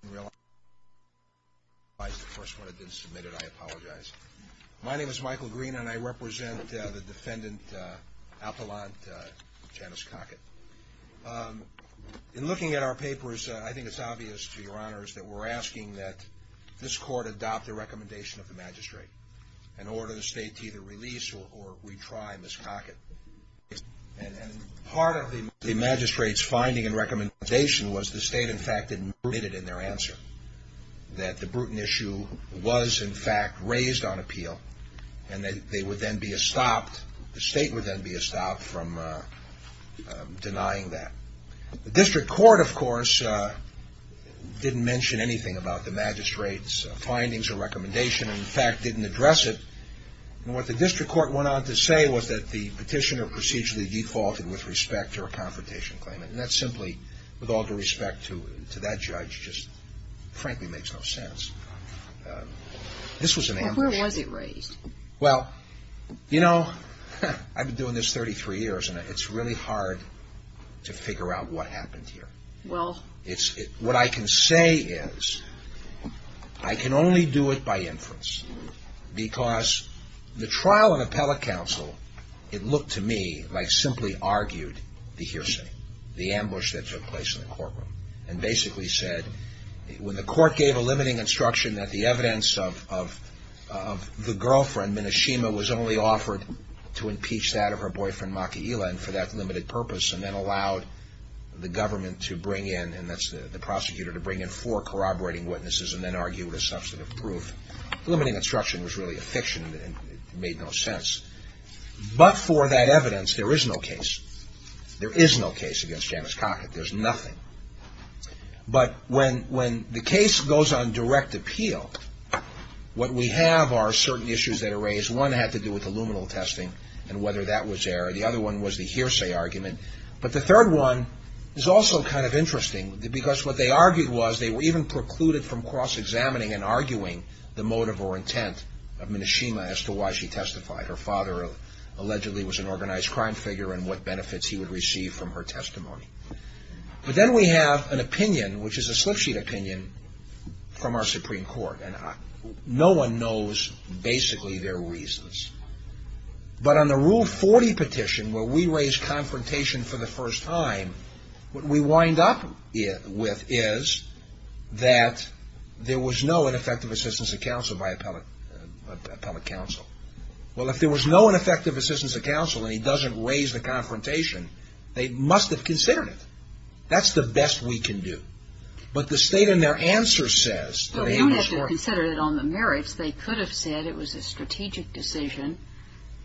I didn't realize the first one had been submitted, I apologize. My name is Michael Green and I represent the defendant, Appelant Janice Cockett. In looking at our papers, I think it's obvious to your honors that we're asking that this court adopt the recommendation of the magistrate and order the state to either release or retry Ms. Cockett. Part of the magistrate's finding and recommendation was the state, in fact, admitted in their answer that the Bruton issue was, in fact, raised on appeal and that they would then be stopped, the state would then be stopped from denying that. The district court, of course, didn't mention anything about the magistrate's findings or recommendation and, in fact, didn't address it. What the district court went on to say was that the petitioner procedurally defaulted with respect to her confrontation claim and that simply, with all due respect to that judge, just frankly makes no sense. This was an ambush. Where was it raised? Well, you know, I've been doing this 33 years and it's really hard to figure out what happened here. Well. What I can say is I can only do it by inference because the trial of appellate counsel, it looked to me like simply argued the hearsay, the ambush that took place in the courtroom and basically said when the court gave a limiting instruction that the evidence of the girlfriend, Meneshima, was only offered to impeach that of her boyfriend, Maki'ila, and for that limited purpose and then allowed the government to bring in, and that's the prosecutor, to bring in four corroborating witnesses and then argue with a substantive proof. Limiting instruction was really a fiction and it made no sense. But for that evidence, there is no case. There is no case against Janice Cockett. There's nothing. But when the case goes on direct appeal, what we have are certain issues that are raised. One had to do with the luminal testing and whether that was there. The other one was the hearsay argument. But the third one is also kind of interesting because what they argued was they were even precluded from cross-examining and arguing the motive or intent of Meneshima as to why she testified. Her father allegedly was an organized crime figure and what benefits he would receive from her testimony. But then we have an opinion, which is a slip sheet opinion, from our Supreme Court. No one knows basically their reasons. But on the Rule 40 petition, where we raise confrontation for the first time, what we wind up with is that there was no ineffective assistance of counsel by appellate counsel. Well, if there was no ineffective assistance of counsel and he doesn't raise the confrontation, they must have considered it. That's the best we can do. But the state in their answer says that it was for —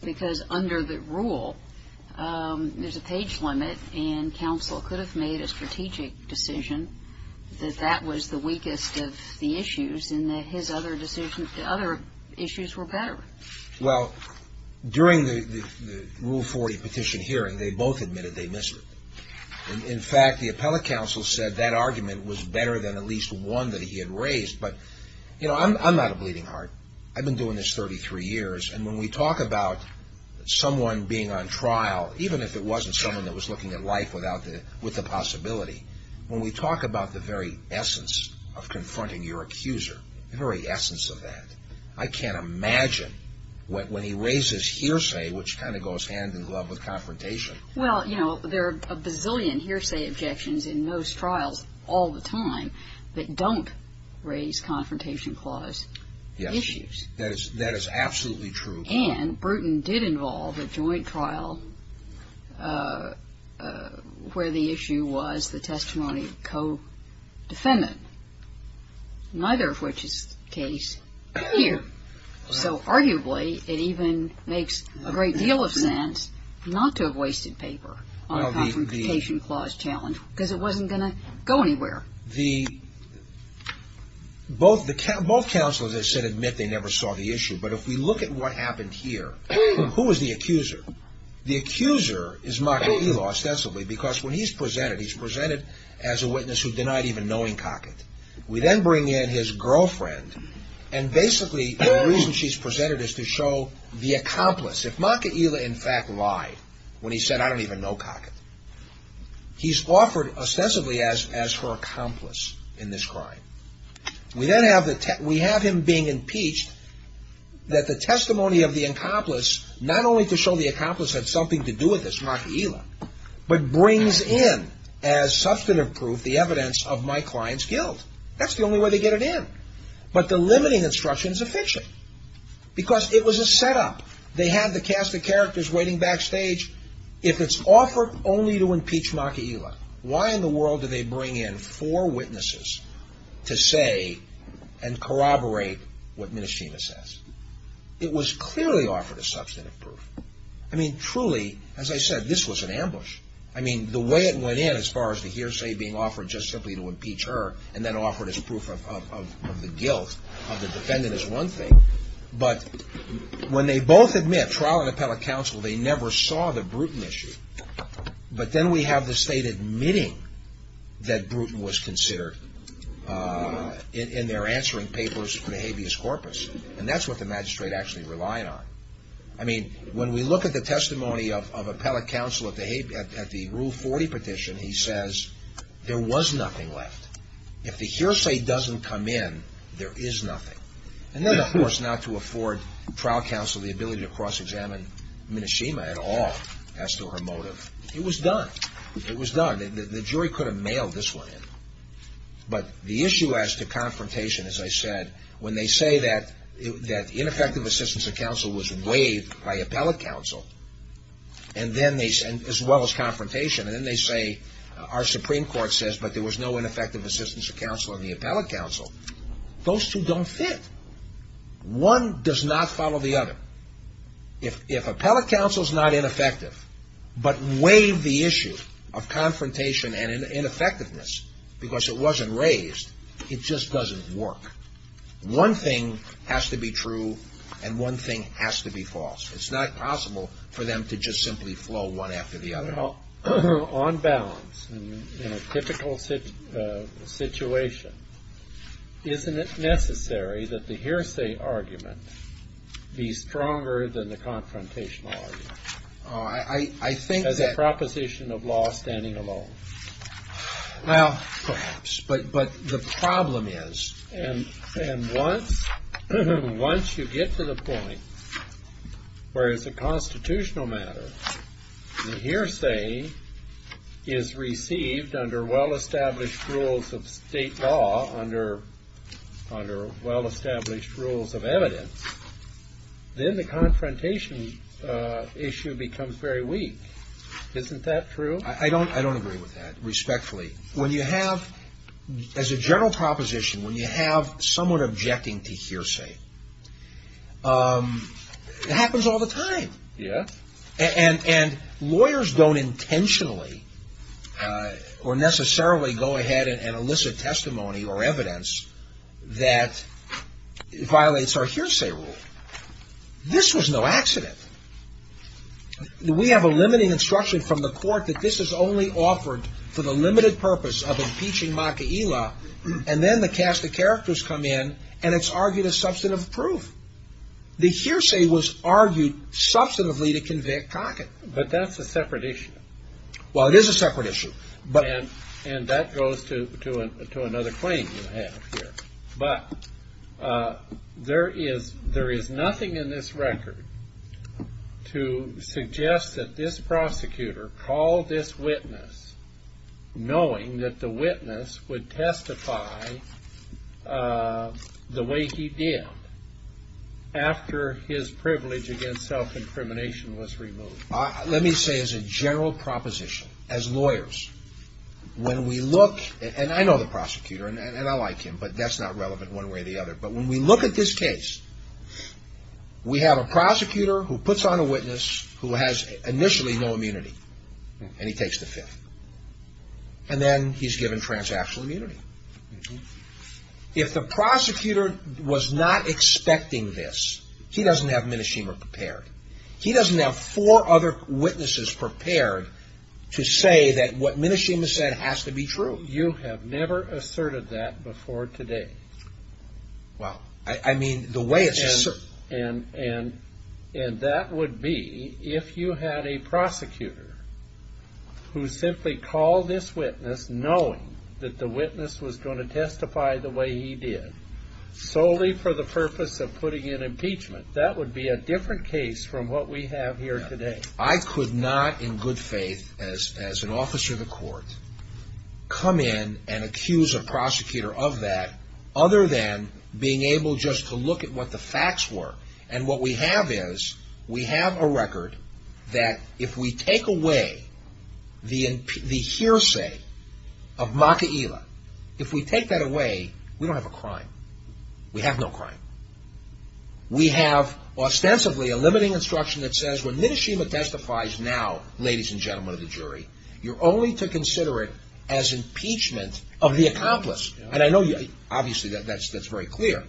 because under the rule, there's a page limit and counsel could have made a strategic decision that that was the weakest of the issues and that his other decisions, the other issues were better. Well, during the Rule 40 petition hearing, they both admitted they missed it. In fact, the appellate counsel said that argument was better than at least one that he had raised. But you know, I'm not a bleeding heart. I've been doing this 33 years. And when we talk about someone being on trial, even if it wasn't someone that was looking at life with the possibility, when we talk about the very essence of confronting your accuser, the very essence of that, I can't imagine when he raises hearsay, which kind of goes hand in glove with confrontation. Well, you know, there are a bazillion hearsay objections in most trials all the time that don't raise confrontation clause issues. That is absolutely true. And Bruton did involve a joint trial where the issue was the testimony of a co-defendant, neither of which is the case here. So arguably, it even makes a great deal of sense not to have wasted paper on a confrontation clause challenge because it wasn't going to go anywhere. Now, both counsels, as I said, admit they never saw the issue. But if we look at what happened here, who was the accuser? The accuser is Maka'ila ostensibly because when he's presented, he's presented as a witness who denied even knowing Cockett. We then bring in his girlfriend, and basically the reason she's presented is to show the accomplice. If Maka'ila in fact lied when he said, I don't even know Cockett, he's offered ostensibly as her accomplice in this crime. We then have him being impeached, that the testimony of the accomplice, not only to show the accomplice had something to do with this Maka'ila, but brings in as substantive proof the evidence of my client's guilt. That's the only way they get it in. But the limiting instruction is a fiction because it was a setup. They had the cast of characters waiting backstage. If it's offered only to impeach Maka'ila, why in the world do they bring in four witnesses to say and corroborate what Mnishina says? It was clearly offered as substantive proof. I mean, truly, as I said, this was an ambush. I mean, the way it went in as far as the hearsay being offered just simply to impeach her and then offered as proof of the guilt of the defendant is one thing. But when they both admit, trial and appellate counsel, they never saw the Bruton issue. But then we have the state admitting that Bruton was considered in their answering papers for the habeas corpus, and that's what the magistrate actually relied on. I mean, when we look at the testimony of appellate counsel at the Rule 40 petition, he says there was nothing left. If the hearsay doesn't come in, there is nothing. And then, of course, not to afford trial counsel the ability to cross-examine Mnishina at all as to her motive. It was done. It was done. The jury could have mailed this one in. But the issue as to confrontation, as I said, when they say that ineffective assistance of counsel was waived by appellate counsel, as well as confrontation, and then they say our Supreme Court says, but there was no ineffective assistance of counsel in the appellate counsel, those two don't fit. One does not follow the other. If appellate counsel is not ineffective, but waived the issue of confrontation and ineffectiveness because it wasn't raised, it just doesn't work. One thing has to be true, and one thing has to be false. It's not possible for them to just simply flow one after the other. Well, on balance, in a typical situation, isn't it necessary that the hearsay argument be stronger than the confrontational argument? I think that... As a proposition of law standing alone. Well, perhaps. But the problem is... And once you get to the point where it's a constitutional matter, the hearsay is received under well-established rules of state law, under well-established rules of evidence, then the confrontation issue becomes very weak. Isn't that true? I don't agree with that, respectfully. When you have, as a general proposition, when you have someone objecting to hearsay, it happens all the time. And lawyers don't intentionally or necessarily go ahead and elicit testimony or evidence that violates our hearsay rule. This was no accident. We have a limiting instruction from the court that this is only offered for the limited purpose of impeaching Maka'ila, and then the cast of characters come in, and it's argued as substantive proof. The hearsay was argued substantively to convict Cockett. But that's a separate issue. Well, it is a separate issue. And that goes to another claim you have here. But there is nothing in this record to suggest that this prosecutor called this witness knowing that the witness would testify the way he did after his privilege against self-incrimination was removed. Let me say as a general proposition, as lawyers, when we look, and I know the prosecutor, and I like him, but that's not relevant one way or the other, but when we look at this case, we have a prosecutor who puts on a witness who has initially no immunity, and he takes the fifth. And then he's given transactional immunity. If the prosecutor was not expecting this, he doesn't have Minashima prepared. He doesn't have four other witnesses prepared to say that what Minashima said has to be true. You have never asserted that before today. Well, I mean, the way it's asserted... And that would be if you had a prosecutor who simply called this witness knowing that the witness was going to testify the way he did solely for the purpose of putting in impeachment. That would be a different case from what we have here today. I could not, in good faith, as an officer of the court, come in and accuse a prosecutor of that other than being able just to look at what the facts were. And what we have is, we have a record that if we take away the hearsay of Maka'ila, if we take that away, we don't have a crime. We have no crime. We have, ostensibly, a limiting instruction that says when Minashima testifies now, ladies and gentlemen of the jury, you're only to consider it as impeachment of the accomplice. And I know, obviously, that's very clear.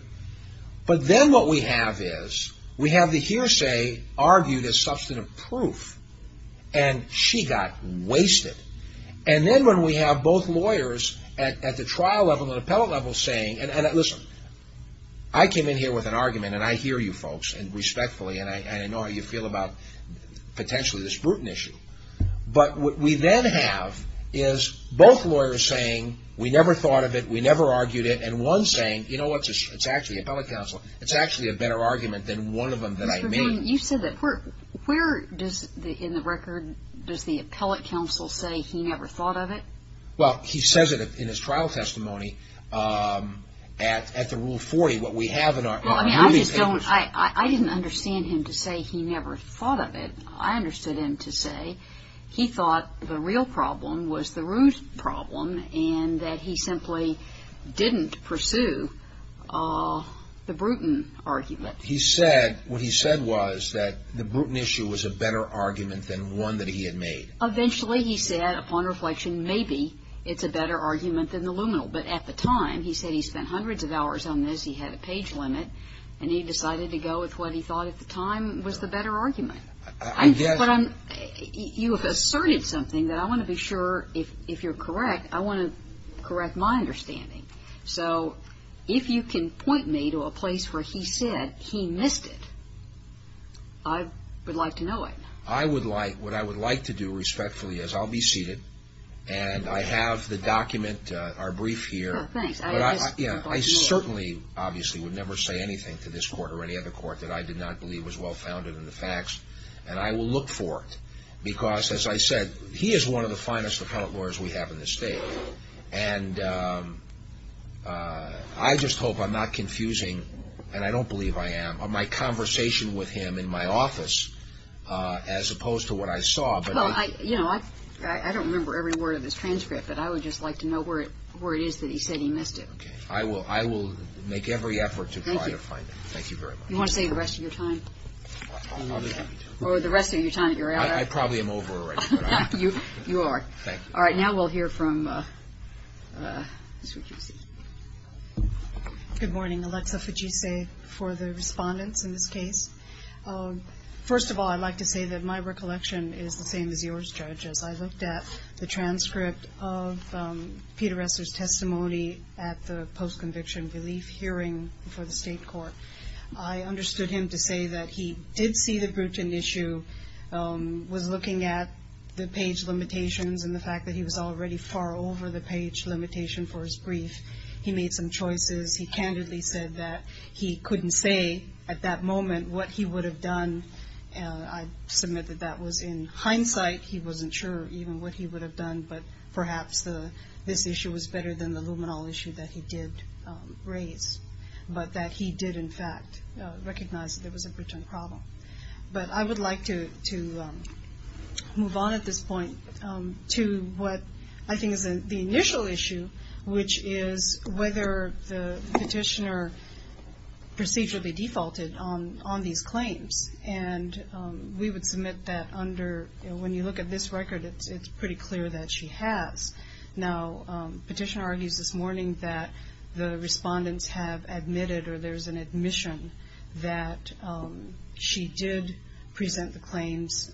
But then what we have is, we have the hearsay argued as substantive proof, and she got wasted. And then when we have both lawyers at the trial level and appellate level saying, listen, I came in here with an argument, and I hear you folks, and respectfully, and I know how you feel about potentially this Bruton issue. But what we then have is both lawyers saying, we never thought of it, we never argued it, and one saying, you know what, it's actually appellate counsel, it's actually a better argument than one of them that I made. You said that, where does, in the record, does the appellate counsel say he never thought of it? Well, he says it in his trial testimony at the Rule 40, what we have in our ruling papers. I mean, I just don't, I didn't understand him to say he never thought of it. I understood him to say he thought the real problem was the Root problem, and that he simply didn't pursue the Bruton argument. He said, what he said was that the Bruton issue was a better argument than one that he had made. Eventually, he said, upon reflection, maybe it's a better argument than the Luminal. But at the time, he said he spent hundreds of hours on this, he had a page limit, and he decided to go with what he thought at the time was the better argument. I guess. But I'm, you have asserted something that I want to be sure, if you're correct, I want to correct my understanding. So if you can point me to a place where he said he missed it, I would like to know it. I would like, what I would like to do respectfully is, I'll be seated, and I have the document, our brief here, but I certainly, obviously, would never say anything to this court or any other court that I did not believe was well-founded in the facts. And I will look for it, because, as I said, he is one of the finest appellate lawyers we have in this state. And I just hope I'm not confusing, and I don't believe I am, my conversation with him in my office, as opposed to what I saw. But I, you know, I, I don't remember every word of this transcript, but I would just like to know where it, where it is that he said he missed it. Okay. I will, I will make every effort to try to find it. Thank you very much. You want to save the rest of your time? I'll, I'll be happy to. Or the rest of your time that you're out of? I, I probably am over already, but I. You, you are. Thank you. All right, now we'll hear from, this is what you see. Good morning. Alexa Fujise for the respondents in this case. First of all, I'd like to say that my recollection is the same as yours, Judge. As I looked at the transcript of Peter Resser's testimony at the post-conviction relief hearing for the state court, I understood him to say that he did see the Bruton issue, was looking at the page limitations, and the fact that he was already far over the page limitation for his brief, he made some choices. He candidly said that he couldn't say at that moment what he would have done. And I submit that that was in hindsight, he wasn't sure even what he would have done, but perhaps the, this issue was better than the luminol issue that he did raise, but that he did in fact recognize that there was a Bruton problem. But I would like to move on at this point to what I think is the initial issue, which is whether the petitioner procedurally defaulted on these claims. And we would submit that under, when you look at this record, it's pretty clear that she has. Now, petitioner argues this morning that the respondents have admitted, or there's an admission that she did present the claims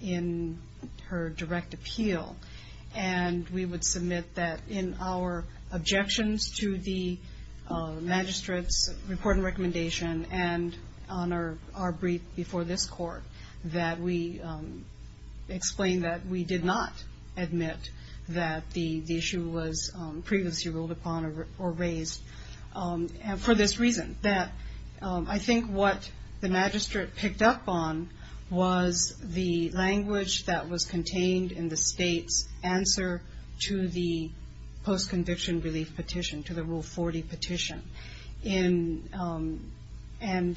in her direct appeal. And we would submit that in our objections to the magistrate's report and recommendation, and on our brief before this court, that we explain that we did not admit that the issue was previously ruled upon or raised for this reason, that I think what the magistrate picked up on was the language that was contained in the state's answer to the post-conviction relief petition, to the Rule 40 petition. And I'm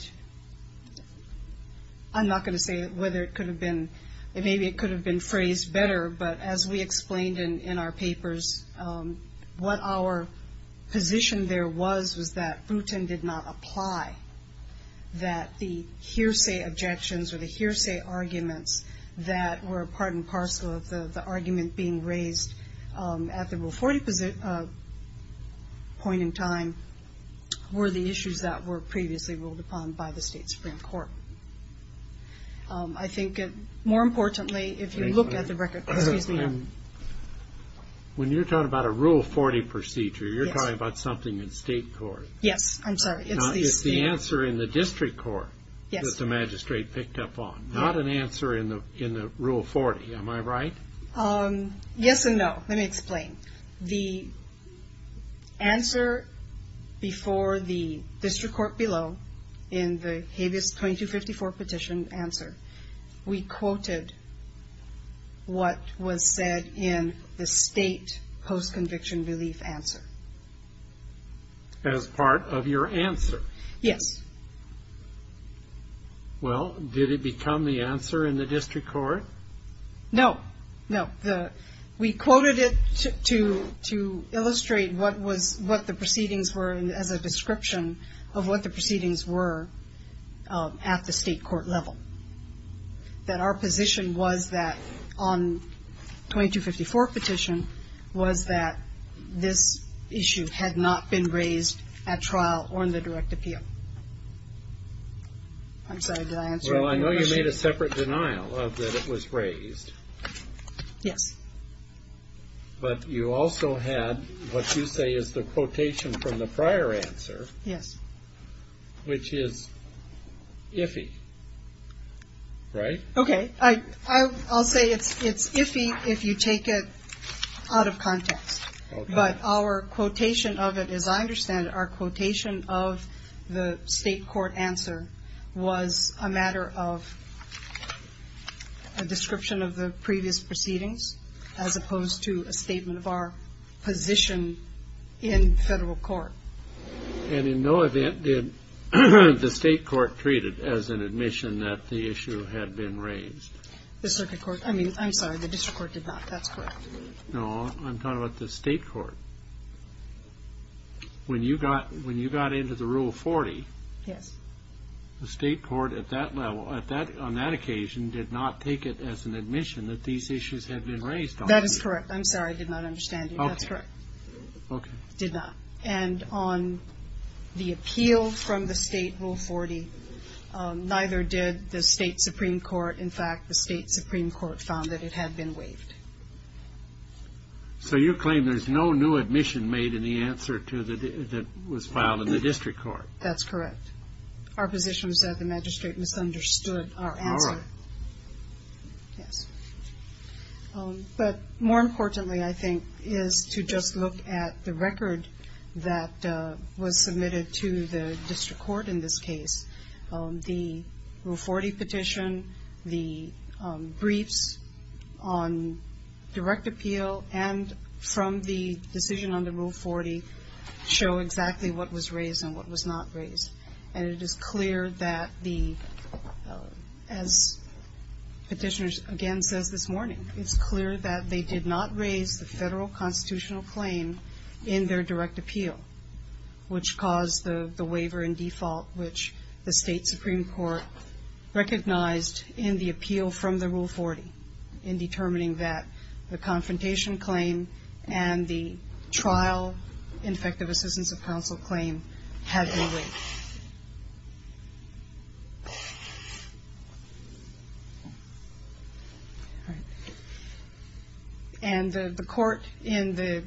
not going to say whether it could have been, maybe it could have been phrased better, but as we explained in our papers, what our position there was was that Bruton did not apply, that the hearsay objections or the hearsay arguments that were part and parcel of the argument being raised at the Rule 40 point in time were the issues that were previously ruled upon by the State Supreme Court. I think, more importantly, if you look at the record, excuse me. I'm, when you're talking about a Rule 40 procedure, you're talking about something in state court. Yes, I'm sorry. It's the answer in the district court that the magistrate picked up on, not an answer in the Rule 40, am I right? Yes and no. Let me explain. The answer before the district court below, in the habeas 2254 petition answer, we quoted what was said in the state post-conviction relief answer. As part of your answer? Yes. Well, did it become the answer in the district court? No, no. We quoted it to illustrate what the proceedings were as a description of what the proceedings were at the state court level. That our position was that, on 2254 petition, was that this issue had not been raised at trial or in the direct appeal. I'm sorry, did I answer your question? Well, I know you made a separate denial of that it was raised. Yes. But you also had what you say is the quotation from the prior answer. Yes. Which is iffy. Right? Okay, I'll say it's iffy if you take it out of context. But our quotation of it, as I understand it, our quotation of the state court answer was a matter of a description of the previous proceedings, as opposed to a statement of our position in federal court. And in no event did the state court treat it as an admission that the issue had been raised? The circuit court, I mean, I'm sorry, the district court did not. That's correct. No, I'm talking about the state court. When you got into the rule 40, the state court at that level, on that occasion, did not take it as an admission that these issues had been raised. That is correct. I'm sorry, I did not understand you. That's correct. Okay. Did not. And on the appeal from the state rule 40, neither did the state supreme court. In fact, the state supreme court found that it had been waived. So you claim there's no new admission made in the answer that was filed in the district court? That's correct. Our position is that the magistrate misunderstood our answer. All right. Yes. But more importantly, I think, is to just look at the record that was submitted to the district court in this case. The rule 40 petition, the briefs on direct appeal and from the decision on the rule 40 show exactly what was raised and what was not raised. And it is clear that the, as petitioner again says this morning, it's clear that they did not raise the federal constitutional claim in their direct appeal. Which caused the waiver in default which the state supreme court recognized in the appeal from the rule 40 in determining that the confrontation claim and the trial in effect of assistance of counsel claim had been waived. And the court in the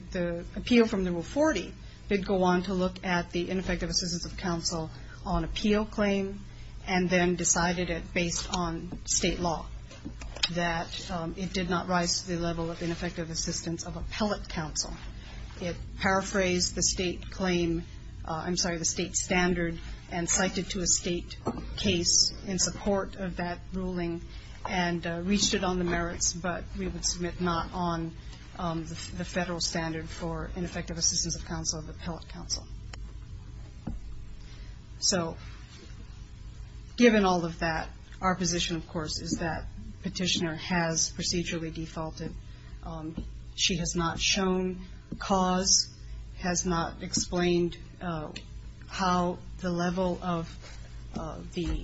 appeal from the rule 40 did go on to look at the ineffective assistance of counsel on appeal claim and then decided it based on state law. That it did not rise to the level of ineffective assistance of appellate counsel. It paraphrased the state claim, I'm sorry, the state standard and cited to a state case in support of that ruling and reached it on the merits. But we would submit not on the federal standard for ineffective assistance of counsel of appellate counsel. So, given all of that, our position of course is that petitioner has procedurally defaulted. She has not shown cause, has not explained how the level of the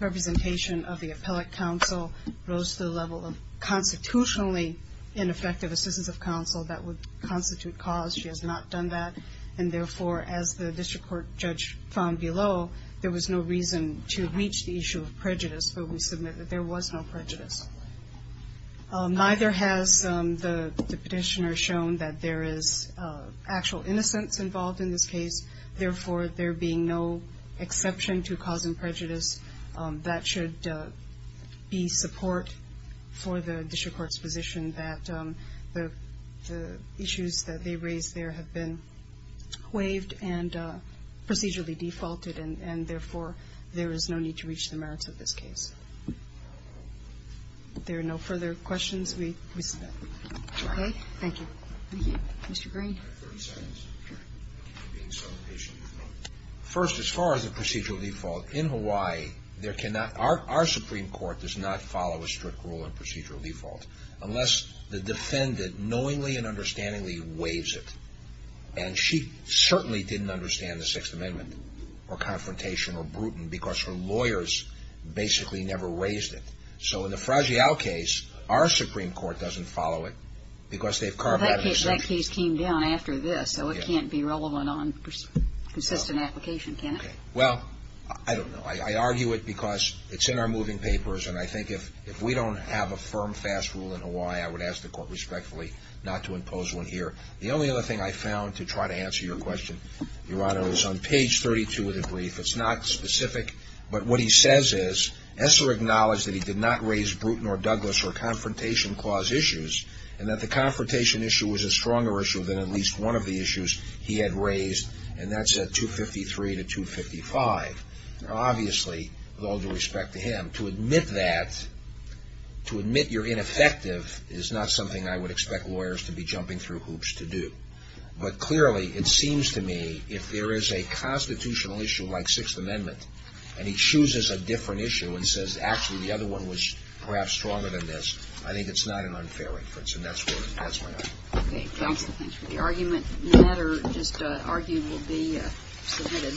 representation of the appellate counsel rose to the level of constitutionally ineffective assistance of counsel that would constitute cause. She has not done that. And therefore, as the district court judge found below, there was no reason to reach the issue of prejudice. So we submit that there was no prejudice. Neither has the petitioner shown that there is actual innocence involved in this case. Therefore, there being no exception to causing prejudice, that should be support for the district court's position that the issues that they raised there have been waived and procedurally defaulted. And therefore, there is no need to reach the merits of this case. If there are no further questions, we submit. Okay? Thank you. Mr. Green. I have 30 seconds. Sure. I'm being so patient. First, as far as the procedural default, in Hawaii, there cannot, our Supreme Court does not follow a strict rule on procedural default. Unless the defendant knowingly and understandingly waives it. And she certainly didn't understand the Sixth Amendment, or confrontation, or Bruton, because her lawyers basically never waived it. So in the Fragile case, our Supreme Court doesn't follow it, because they've carved out an exception. That case came down after this, so it can't be relevant on consistent application, can it? Well, I don't know. I argue it because it's in our moving papers, and I think if we don't have a firm, fast rule in Hawaii, I would ask the court respectfully not to impose one here. The only other thing I found, to try to answer your question, Your Honor, is on page 32 of the brief, it's not specific. But what he says is, Esser acknowledged that he did not raise Bruton, or Douglas, or Confrontation Clause issues. And that the Confrontation issue was a stronger issue than at least one of the issues he had raised, and that's at 253 to 255. Now, obviously, with all due respect to him, to admit that, to admit you're ineffective, is not something I would expect lawyers to be jumping through hoops to do. But clearly, it seems to me, if there is a constitutional issue like Sixth Amendment, and he chooses a different issue, and says, actually, the other one was perhaps stronger than this, I think it's not an unfair inference. And that's my argument. Okay, counsel, thanks for the argument. No matter, just argue will be submitted.